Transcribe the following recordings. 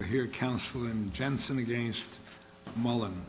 We're here counseling Jensen against Mullen.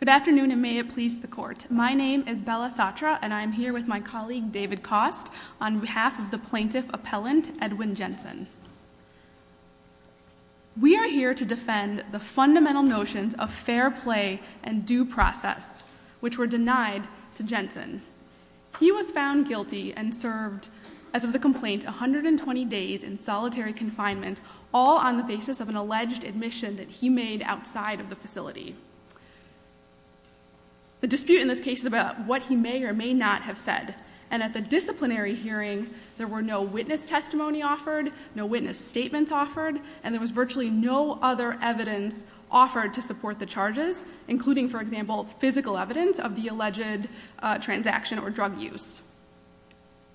Good afternoon and may it please the court. My name is Bella Satra and I'm here with my colleague David Kost on behalf of the plaintiff appellant, Edwin Jensen. We are here to defend the fundamental notions of fair play and due process, which were denied to Jensen. He was found guilty and served, as of the complaint, 120 days in solitary confinement, all on the basis of an alleged admission that he made outside of the facility. The dispute in this case is about what he may or may not have said, and at the disciplinary hearing there were no witness testimony offered, no witness statements offered, and there was virtually no other evidence offered to support the charges, including, for example, physical evidence of the alleged transaction or drug use.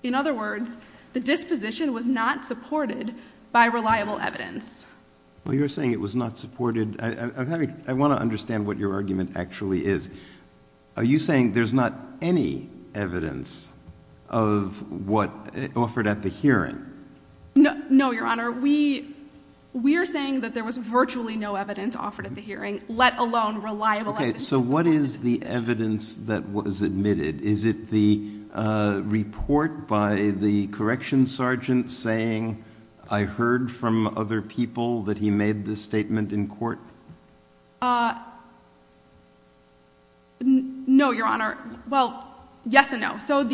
In other words, the disposition was not supported by reliable evidence. Well, you're saying it was not supported. I want to understand what your argument actually is. Are you saying there's not any evidence of what offered at the hearing? No, Your Honor. We are saying that there was virtually no evidence offered at the hearing, let alone reliable evidence. Okay. So what is the evidence that was admitted? Is it the report by the corrections sergeant saying, I heard from other people that he made this statement in court? No, Your Honor. Well, yes and no. So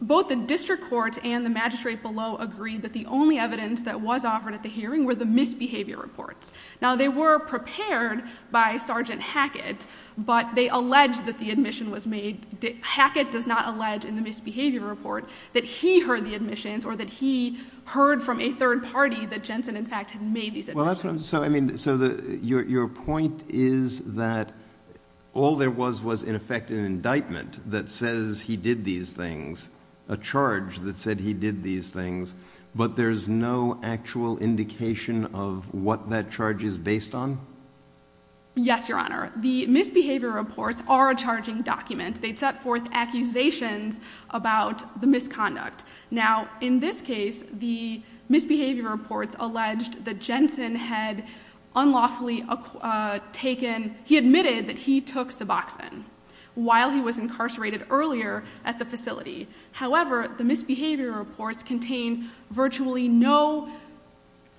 both the district court and the magistrate below agreed that the only evidence that was offered at the hearing were the misbehavior reports. Now, they were prepared by Sergeant Hackett, but they allege that the admission was made... Hackett does not allege in the misbehavior report that he heard the admissions or that he heard from a third party that Jensen, in fact, had made these admissions. So your point is that all there was was, in effect, an indictment that says he did these things, a charge that said he did these things, but there's no actual indication of what that charge is based on? Yes, Your Honor. The misbehavior reports are a charging document. They set forth accusations about the misconduct. Now, in this case, the misbehavior reports alleged that Jensen had unlawfully taken... he admitted that he took Suboxone while he was incarcerated earlier at the facility. However, the misbehavior reports contain virtually no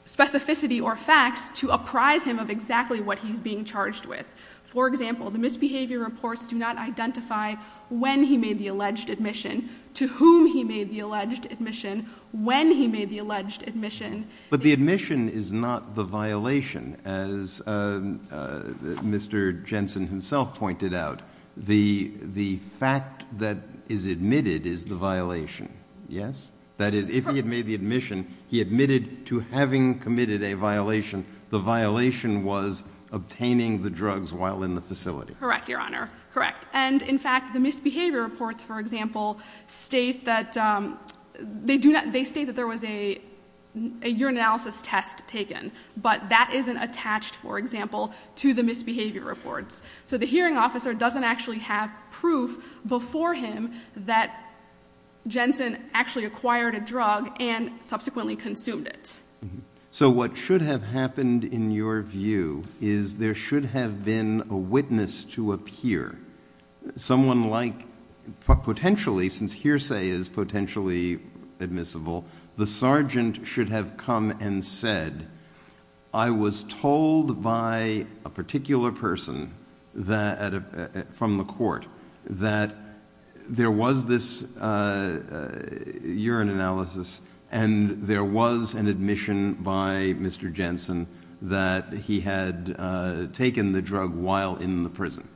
specificity or facts to apprise him of exactly what he's being charged with. For example, the misbehavior reports do not identify when he made the alleged admission, to whom he made the alleged admission, when he made the alleged admission. But the admission is not the violation, as Mr. Jensen himself pointed out. The fact that is admitted is the violation, yes? That is, if he had made the admission, he admitted to having committed a violation. The violation was obtaining the drugs while in the facility. Correct, Your Honor. Correct. And, in fact, the misbehavior reports, for example, state that there was a urinalysis test taken, but that isn't attached, for example, to the misbehavior reports. So the hearing officer doesn't actually have proof before him that Jensen actually acquired a drug and subsequently consumed it. So what should have happened, in your view, is there should have been a witness to appear. Someone like... potentially, since hearsay is potentially admissible, the sergeant should have come and said, I was told by a particular person from the court that there was this urine analysis and there was an admission by Mr. Jensen that he had taken the drug while in the prison.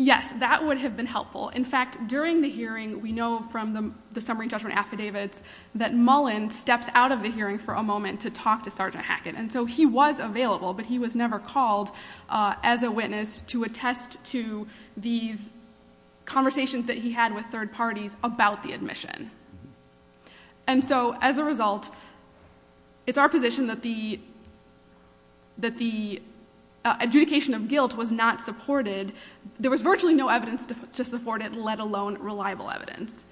Yes, that would have been helpful. In fact, during the hearing, we know from the summary judgment affidavits that Mullen stepped out of the hearing for a moment to talk to Sergeant Hackett. And so he was available, but he was never called as a witness to attest to these conversations that he had with third parties about the admission. And so, as a result, it's our position that the adjudication of guilt was not supported. There was virtually no evidence to support it, let alone reliable evidence.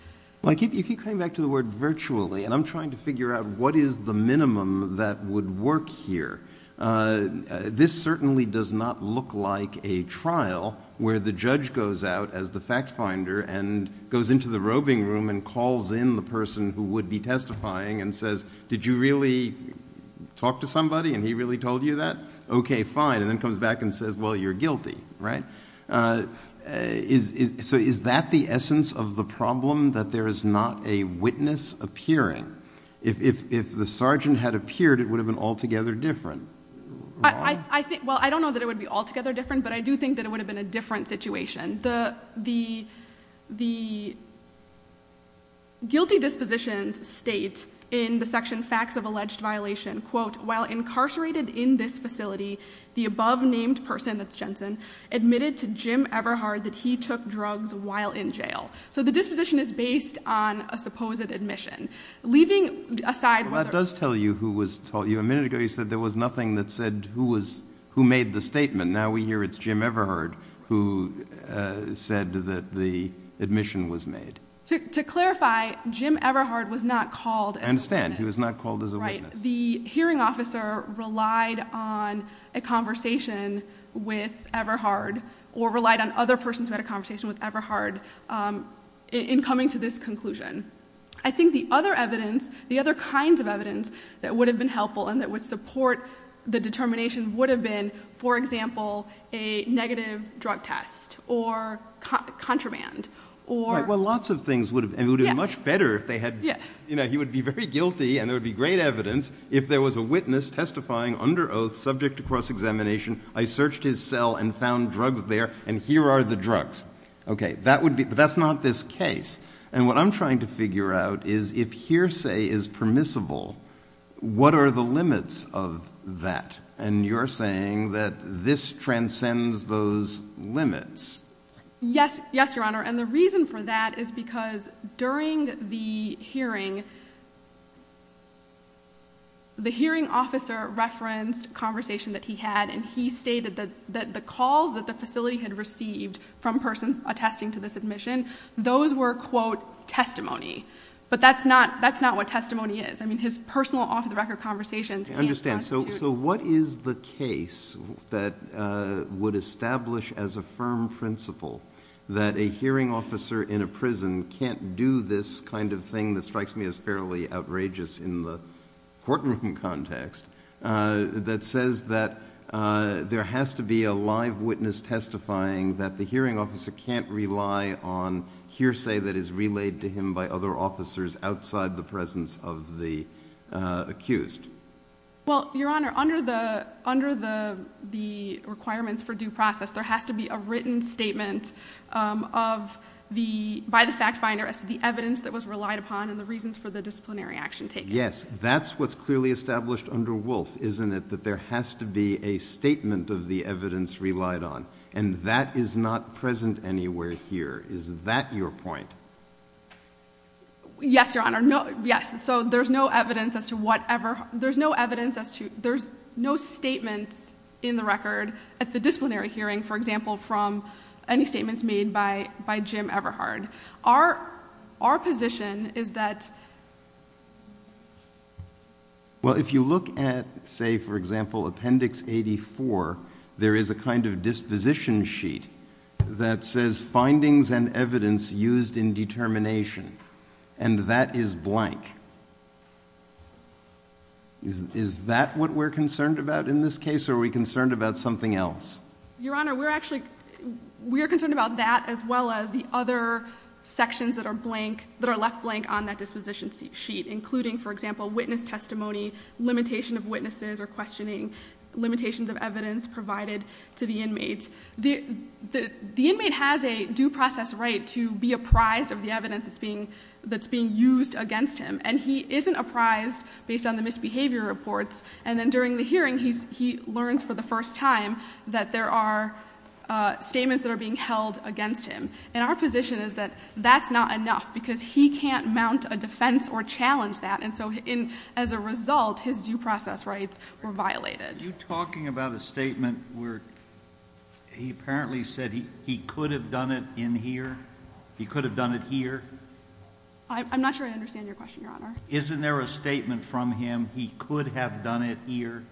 You keep coming back to the word virtually, and I'm trying to figure out what is the minimum that would work here. This certainly does not look like a trial where the judge goes out as the fact finder and goes into the robing room and calls in the person who would be testifying and says, did you really talk to somebody and he really told you that? Okay, fine. And then comes back and says, well, you're guilty, right? So is that the essence of the problem, that there is not a witness appearing? If the sergeant had appeared, it would have been altogether different. Well, I don't know that it would be altogether different, but I do think that it would have been a different situation. The guilty dispositions state in the section facts of alleged violation, quote, while incarcerated in this facility, the above-named person, that's Jensen, admitted to Jim Everhard that he took drugs while in jail. So the disposition is based on a supposed admission. Leaving aside whether- Well, that does tell you who was told, a minute ago you said there was nothing that said who made the statement. Now we hear it's Jim Everhard who said that the admission was made. To clarify, Jim Everhard was not called as a witness. I understand. He was not called as a witness. Right. The hearing officer relied on a conversation with Everhard, or relied on other persons who had a conversation with Everhard in coming to this conclusion. I think the other evidence, the other kinds of evidence that would have been helpful and that would support the determination would have been, for example, a negative drug test or contraband, or- Right. Well, lots of things would have- Yeah. And it would have been much better if they had- Yeah. You know, he would be very guilty and there would be great evidence if there was a witness testifying under oath, subject to cross-examination, I searched his cell and found drugs there and here are the drugs. Okay. That would be- But that's not this case. And what I'm trying to figure out is if hearsay is permissible, what are the limits of that? And you're saying that this transcends those limits. Yes. Yes, Your Honor. And the reason for that is because during the hearing, the hearing officer referenced conversation that he had and he stated that the calls that the facility had received from persons attesting to the submission, those were, quote, testimony. But that's not what testimony is. I mean, his personal off-the-record conversations can't constitute- I understand. So what is the case that would establish as a firm principle that a hearing officer in a prison can't do this kind of thing that strikes me as fairly outrageous in the courtroom context that says that there has to be a live witness testifying that the hearing officer can't rely on hearsay that is relayed to him by other officers outside the presence of the accused? Well, Your Honor, under the requirements for due process, there has to be a written statement by the fact finder as to the evidence that was relied upon and the reasons for the disciplinary action taken. Yes. That's what's clearly established under Wolfe, isn't it, that there has to be a statement of the evidence relied on. And that is not present anywhere here. Is that your point? Yes, Your Honor. Yes. So there's no evidence as to whatever- there's no evidence as to- there's no statements in the record at the disciplinary hearing, for example, from any statements made by Jim Everhard. Our position is that- Well, if you look at, say, for example, Appendix 84, there is a kind of disposition sheet that says findings and evidence used in determination, and that is blank. Is that what we're concerned about in this case, or are we concerned about something else? Your Honor, we're actually- we are concerned about that as well as the other sections that are blank- that are left blank on that disposition sheet, including, for example, witness testimony, limitation of witnesses or questioning, limitations of evidence provided to the inmate. The inmate has a due process right to be apprised of the evidence that's being used against him, and he isn't apprised based on the misbehavior reports. And then during the hearing, he learns for the first time that there are statements that are being held against him. And our position is that that's not enough, because he can't mount a defense or challenge that, and so as a result, his due process rights were violated. Are you talking about a statement where he apparently said he could have done it in here? He could have done it here? I'm not sure I understand your question, Your Honor. Isn't there a statement from him, he could have done it here?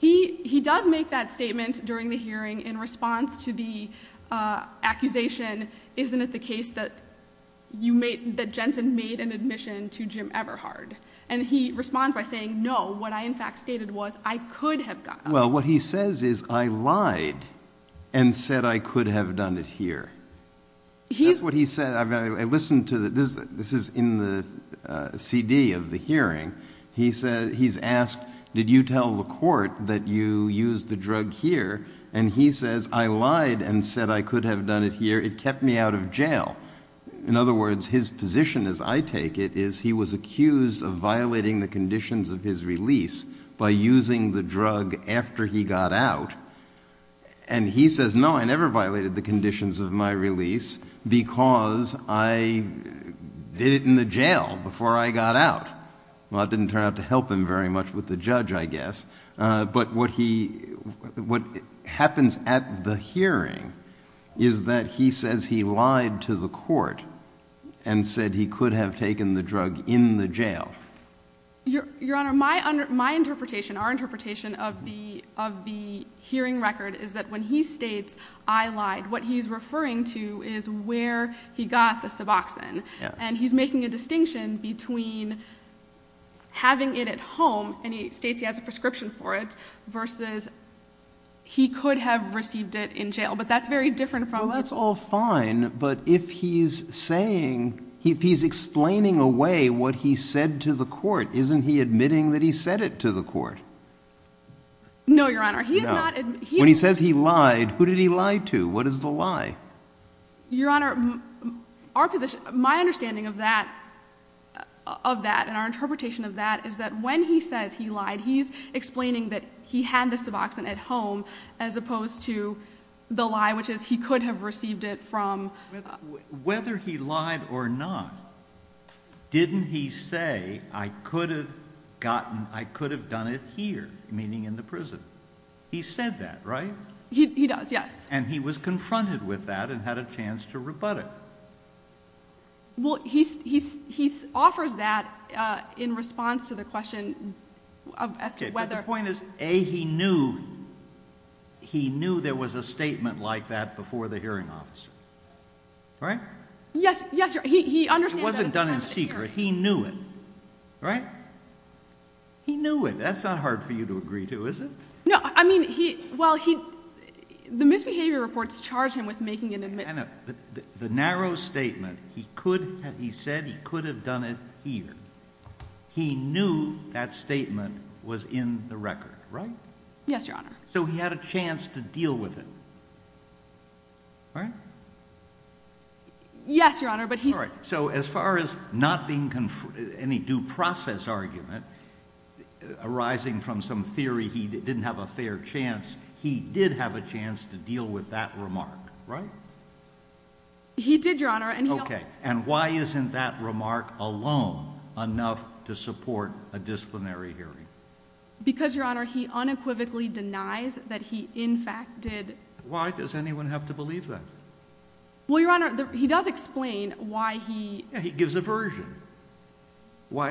He does make that statement during the hearing in response to the accusation, isn't it the case that you made- that Jensen made an admission to Jim Everhard? And he responds by saying, no, what I in fact stated was, I could have done it here. Well, what he says is, I lied and said I could have done it here. That's what he said, I mean, I listened to the- this is in the CD of the hearing. He said, he's asked, did you tell the court that you used the drug here? And he says, I lied and said I could have done it here, it kept me out of jail. In other words, his position, as I take it, is he was accused of violating the conditions of his release by using the drug after he got out. And he says, no, I never violated the conditions of my release because I did it in the jail before I got out. Well, it didn't turn out to help him very much with the judge, I guess. But what he- what happens at the hearing is that he says he lied to the court and said he could have taken the drug in the jail. Your Honor, my interpretation, our interpretation of the hearing record is that when he states, I lied, what he's referring to is where he got the Suboxone. And he's making a distinction between having it at home, and he states he has a prescription for it, versus he could have received it in jail. But that's very different from- Well, that's all fine. But if he's saying- if he's explaining away what he said to the court, isn't he admitting that he said it to the court? No, Your Honor, he is not- When he says he lied, who did he lie to? What is the lie? Your Honor, our position- my understanding of that- of that, and our interpretation of that is that when he says he lied, he's explaining that he had the Suboxone at home, as opposed to the lie, which is he could have received it from- Whether he lied or not, didn't he say, I could have gotten- I could have done it here, meaning in the prison? He said that, right? He does, yes. And he was confronted with that, and had a chance to rebut it. Well, he offers that in response to the question of as to whether- Okay, but the point is, A, he knew there was a statement like that before the hearing officer, right? Yes, yes, Your Honor, he understands that- It wasn't done in secret. He knew it, right? He knew it. That's not hard for you to agree to, is it? No. I mean, he- well, he- the misbehavior reports charge him with making an admitt- The narrow statement, he could have- he said he could have done it here. He knew that statement was in the record, right? Yes, Your Honor. So, he had a chance to deal with it, right? Yes, Your Honor, but he- All right. So, as far as not being- any due process argument arising from some theory he didn't have a fair chance, he did have a chance to deal with that remark, right? He did, Your Honor, and he- Okay. And why isn't that remark alone enough to support a disciplinary hearing? Because Your Honor, he unequivocally denies that he, in fact, did- Why does anyone have to believe that? Well, Your Honor, he does explain why he- He gives a version. Why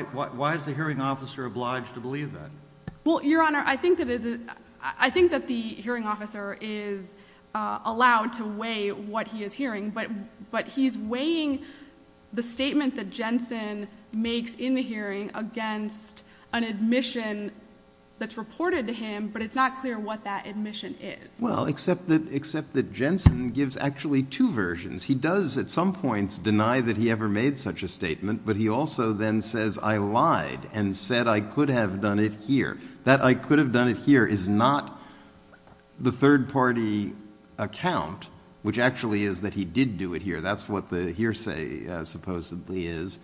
is the hearing officer obliged to believe that? Well, Your Honor, I think that it is- I think that the hearing officer is allowed to weigh what he is hearing, but he's weighing the statement that Jensen makes in the hearing against an admission that's reported to him, but it's not clear what that admission is. Well, except that Jensen gives actually two versions. He does, at some points, deny that he ever made such a statement, but he also then says, I lied and said I could have done it here. That I could have done it here is not the third-party account, which actually is that he did do it here. That's what the hearsay supposedly is.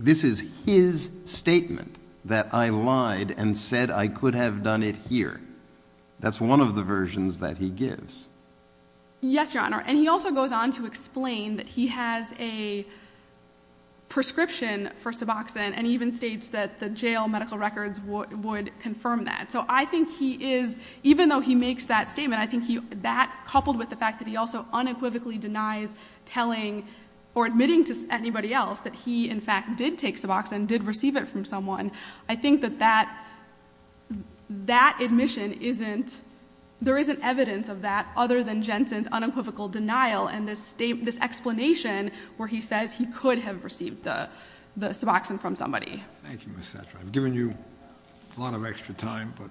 This is his statement, that I lied and said I could have done it here. That's one of the versions that he gives. Yes, Your Honor, and he also goes on to explain that he has a prescription for Suboxone, and he even states that the jail medical records would confirm that. So I think he is- even though he makes that statement, I think that, coupled with the fact that he also unequivocally denies telling or admitting to anybody else that he, in fact, did take Suboxone, did receive it from someone, I think that that admission isn't- there isn't evidence of that other than Jensen's unequivocal denial and this explanation where he says he could have received the Suboxone from somebody. Thank you, Ms. Sattra. I've given you a lot of extra time, but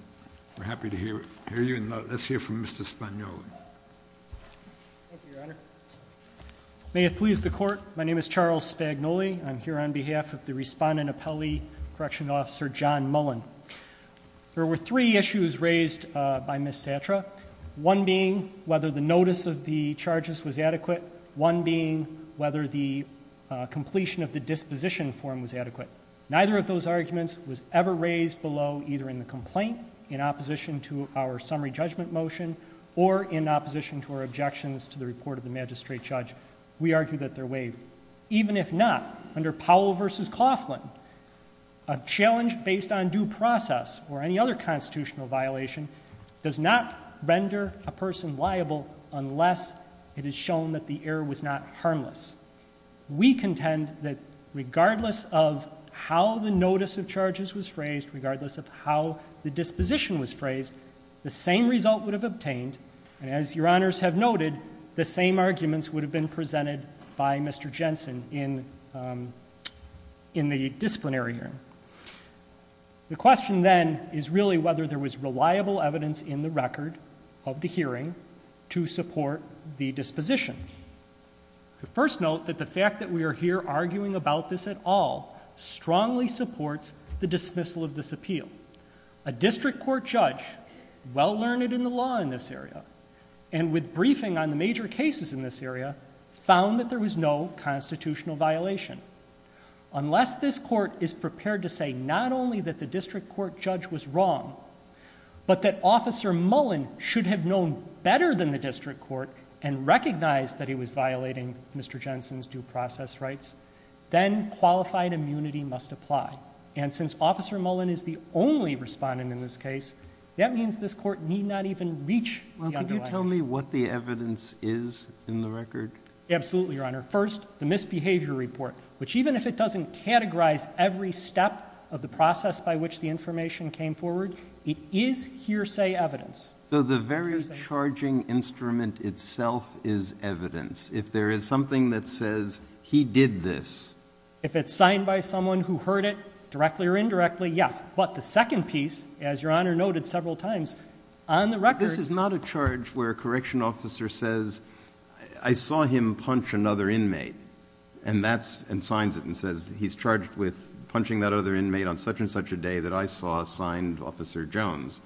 we're happy to hear you, and let's hear from Mr. Spagnoli. Thank you, Your Honor. May it please the Court, my name is Charles Spagnoli, and I'm here on behalf of the Respondent Appellee Correctional Officer John Mullen. There were three issues raised by Ms. Sattra, one being whether the notice of the charges was adequate, one being whether the completion of the disposition form was adequate. Neither of those arguments was ever raised below, either in the complaint, in opposition to our summary judgment motion, or in opposition to our objections to the report of the magistrate judge. We argue that they're waived. Even if not, under Powell v. Coughlin, a challenge based on due process or any other constitutional violation does not render a person liable unless it is shown that the error was not harmless. We contend that regardless of how the notice of charges was phrased, regardless of how the disposition was phrased, the same result would have obtained, and as Your Honors have noted, the same arguments would have been presented by Mr. Jensen in the disciplinary hearing. The question, then, is really whether there was reliable evidence in the record of the hearing to support the disposition. First note that the fact that we are here arguing about this at all strongly supports the dismissal of this appeal. A district court judge, well learned in the law in this area, and with briefing on the major cases in this area, found that there was no constitutional violation. Unless this court is prepared to say not only that the district court judge was wrong, but that Officer Mullen should have known better than the district court and recognized that he was violating Mr. Jensen's due process rights, then qualified immunity must apply. Since Officer Mullen is the only respondent in this case, that means this court need not even reach the underlying... Well, can you tell me what the evidence is in the record? Absolutely, Your Honor. First, the misbehavior report, which even if it doesn't categorize every step of the process by which the information came forward, it is hearsay evidence. So the very charging instrument itself is evidence. If there is something that says, he did this... If it's signed by someone who heard it, directly or indirectly, yes. But the second piece, as Your Honor noted several times, on the record... This is not a charge where a correction officer says, I saw him punch another inmate, and signs it and says, he's charged with punching that other inmate on such and such a day that I saw signed Officer Jones.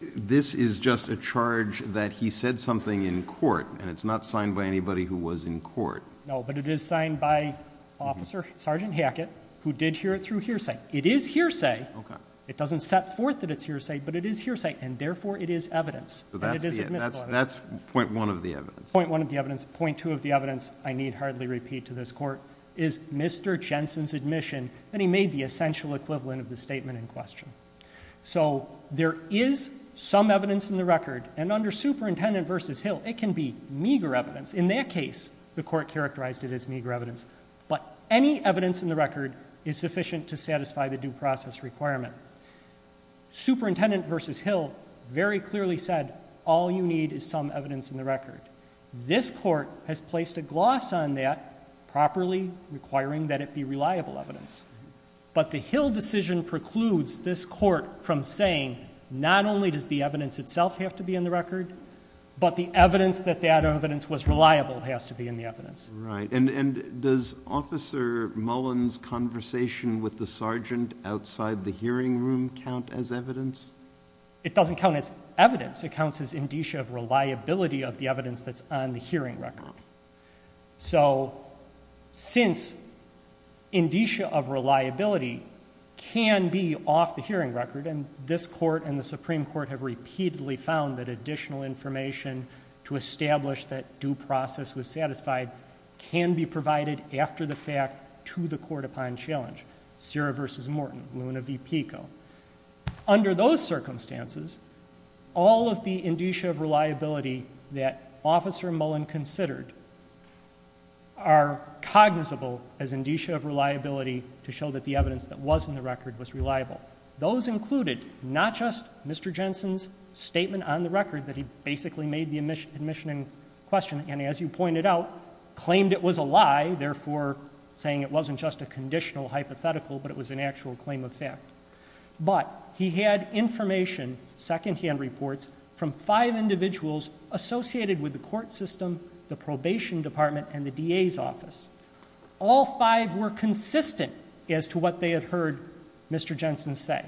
This is just a charge that he said something in court, and it's not signed by anybody who was in court. No, but it is signed by Officer Sergeant Hackett, who did hear it through hearsay. It is hearsay. Okay. And it doesn't set forth that it is hearsay, but it is hearsay, and therefore it is evidence and it is admissible evidence. So that's point one of the evidence. Point one of the evidence. Point two of the evidence, I need hardly repeat to this Court, is Mr. Jensen's admission that he made the essential equivalent of the statement in question. So there is some evidence in the record, and under Superintendent v. Hill it can be meager evidence. In that case, the Court characterized it as meager evidence. But any evidence in the record is sufficient to satisfy the due process requirement. Superintendent v. Hill very clearly said, all you need is some evidence in the record. This Court has placed a gloss on that properly, requiring that it be reliable evidence. But the Hill decision precludes this Court from saying, not only does the evidence itself have to be in the record, but the evidence that that evidence was reliable has to be in the evidence. Right. And does Officer Mullen's conversation with the sergeant outside the hearing room count as evidence? It doesn't count as evidence. It counts as indicia of reliability of the evidence that's on the hearing record. So since indicia of reliability can be off the hearing record, and this Court and the Supreme Court have repeatedly found that additional information to establish that due process was satisfied, can be provided after the fact to the Court upon challenge. Sierra v. Morton, Luna v. Pico. Under those circumstances, all of the indicia of reliability that Officer Mullen considered are cognizable as indicia of reliability to show that the evidence that was in the record was reliable. Those included, not just Mr. Jensen's statement on the record that he basically made the admission and question, and as you pointed out, claimed it was a lie, therefore saying it wasn't just a conditional hypothetical, but it was an actual claim of fact. But he had information, secondhand reports, from five individuals associated with the court system, the probation department, and the DA's office. All five were consistent as to what they had heard Mr. Jensen say.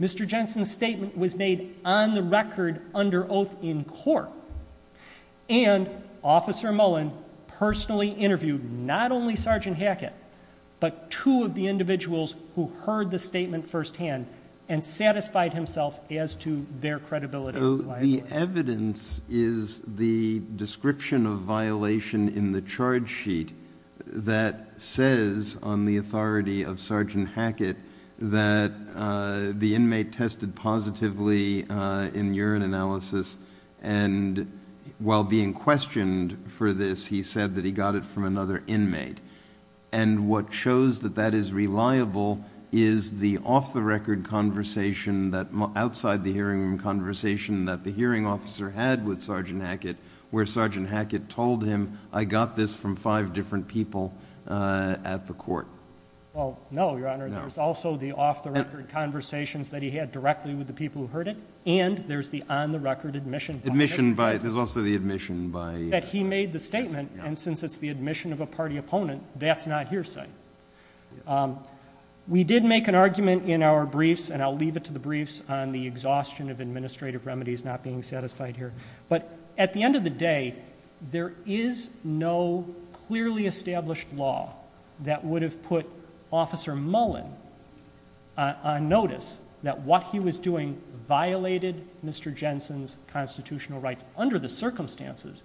Mr. Jensen's statement was made on the record under oath in court, and Officer Mullen personally interviewed not only Sergeant Hackett, but two of the individuals who heard the statement firsthand and satisfied himself as to their credibility. The evidence is the description of violation in the charge sheet that says on the authority of Sergeant Hackett that the inmate tested positively in urine analysis, and while being questioned for this, he said that he got it from another inmate. What shows that that is reliable is the off-the-record conversation outside the hearing room conversation that the hearing officer had with Sergeant Hackett, where Sergeant Hackett told him, I got this from five different people at the court. Well, no, Your Honor. There's also the off-the-record conversations that he had directly with the people who heard it, and there's the on-the-record admission. Admission by, there's also the admission by. That he made the statement, and since it's the admission of a party opponent, that's not hearsay. We did make an argument in our briefs, and I'll leave it to the briefs, on the exhaustion of administrative remedies not being satisfied here. But at the end of the day, there is no clearly established law that would have put Officer Mullen on notice that what he was doing violated Mr. Jensen's constitutional rights under the circumstances.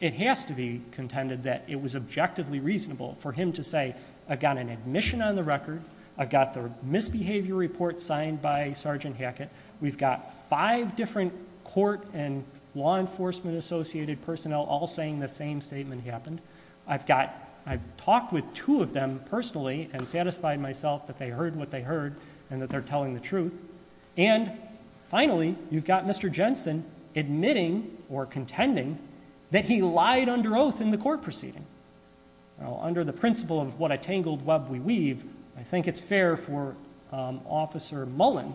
It has to be contended that it was objectively reasonable for him to say, I've got an admission on the record. I've got the misbehavior report signed by Sergeant Hackett. We've got five different court and law enforcement associated personnel all saying the same statement happened. I've talked with two of them personally and satisfied myself that they heard what they heard and that they're telling the truth. And finally, you've got Mr. Jensen admitting or contending that he lied under oath in the court proceeding. Under the principle of what a tangled web we weave, I think it's fair for Officer Mullen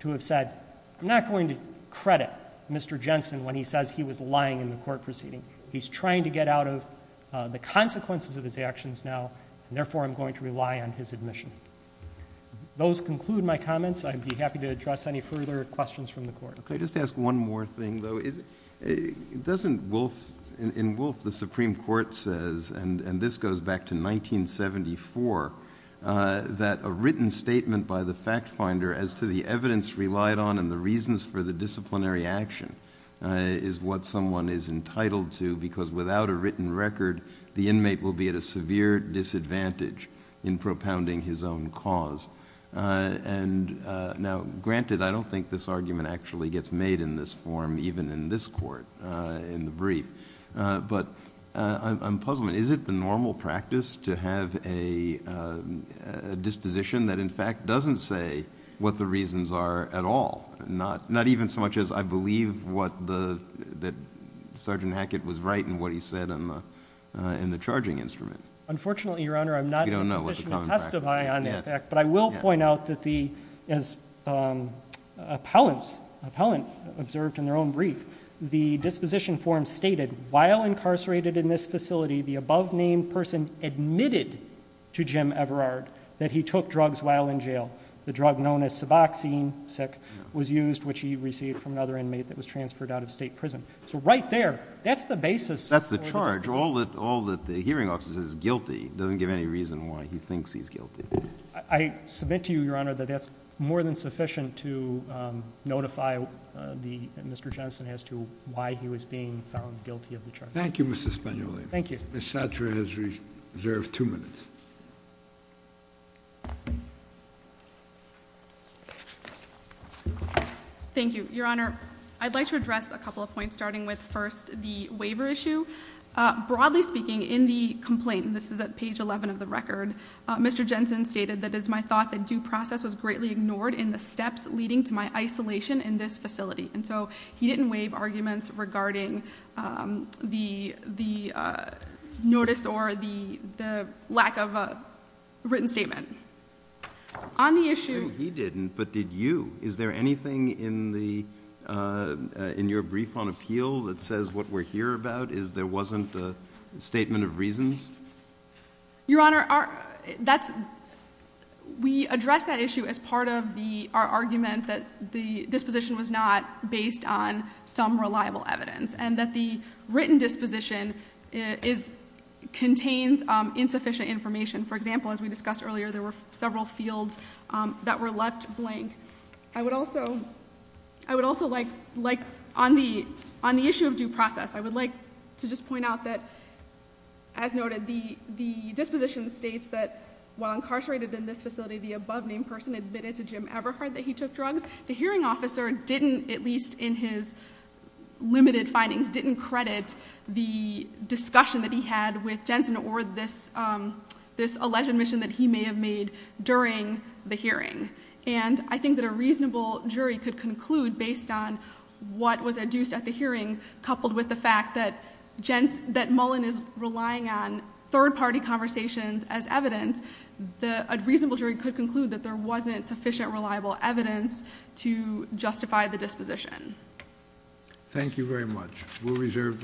to have said, I'm not going to credit Mr. Jensen when he says he was lying in the court proceeding. He's trying to get out of the consequences of his actions now, and therefore I'm going to rely on his admission. Those conclude my comments. I'd be happy to address any further questions from the court. Okay, just to ask one more thing though, in Wolfe the Supreme Court says, and this goes back to 1974, that a written statement by the fact finder as to the evidence relied on and the reasons for the disciplinary action is what someone is entitled to. Because without a written record, the inmate will be at a severe disadvantage in propounding his own cause. And now, granted, I don't think this argument actually gets made in this form, even in this court, in the brief. But I'm puzzled, is it the normal practice to have a disposition that, in fact, doesn't say what the reasons are at all? Not even so much as I believe that Sergeant Hackett was right in what he said in the charging instrument. Unfortunately, Your Honor, I'm not in a position to testify on that fact. But I will point out that the, as appellants observed in their own brief, the disposition form stated, while incarcerated in this facility, the above named person admitted to Jim Everard that he took drugs while in jail. The drug known as Suboxone was used, which he received from another inmate that was transferred out of state prison. So right there, that's the basis. That's the charge. All that the hearing officer says is guilty doesn't give any reason why he thinks he's guilty. I submit to you, Your Honor, that that's more than sufficient to notify Mr. Jensen as to why he was being found guilty of the charge. Thank you, Mr. Spagnoli. Thank you. Ms. Sattra has reserved two minutes. Thank you, Your Honor. I'd like to address a couple of points, starting with first the waiver issue. Broadly speaking, in the complaint, and this is at page 11 of the record, Mr. Jensen stated that it is my thought that due process was greatly ignored in the steps leading to my isolation in this facility. And so he didn't waive arguments regarding the notice or the lack of a written statement. On the issue- No, he didn't, but did you? Is there anything in your brief on appeal that says what we're here about is there wasn't a statement of reasons? Your Honor, we address that issue as part of our argument that the disposition was not based on some reliable evidence. And that the written disposition contains insufficient information. For example, as we discussed earlier, there were several fields that were left blank. I would also like, on the issue of due process, I would like to just point out that, as noted, the disposition states that while incarcerated in this facility, the above named person admitted to Jim Everhart that he took drugs. The hearing officer didn't, at least in his limited findings, didn't credit the discussion that he had with Jensen or this alleged admission that he may have made during the hearing. And I think that a reasonable jury could conclude, based on what was adduced at the hearing, coupled with the fact that Mullen is relying on third party conversations as evidence. A reasonable jury could conclude that there wasn't sufficient reliable evidence to justify the disposition. Thank you very much. We'll reserve decision.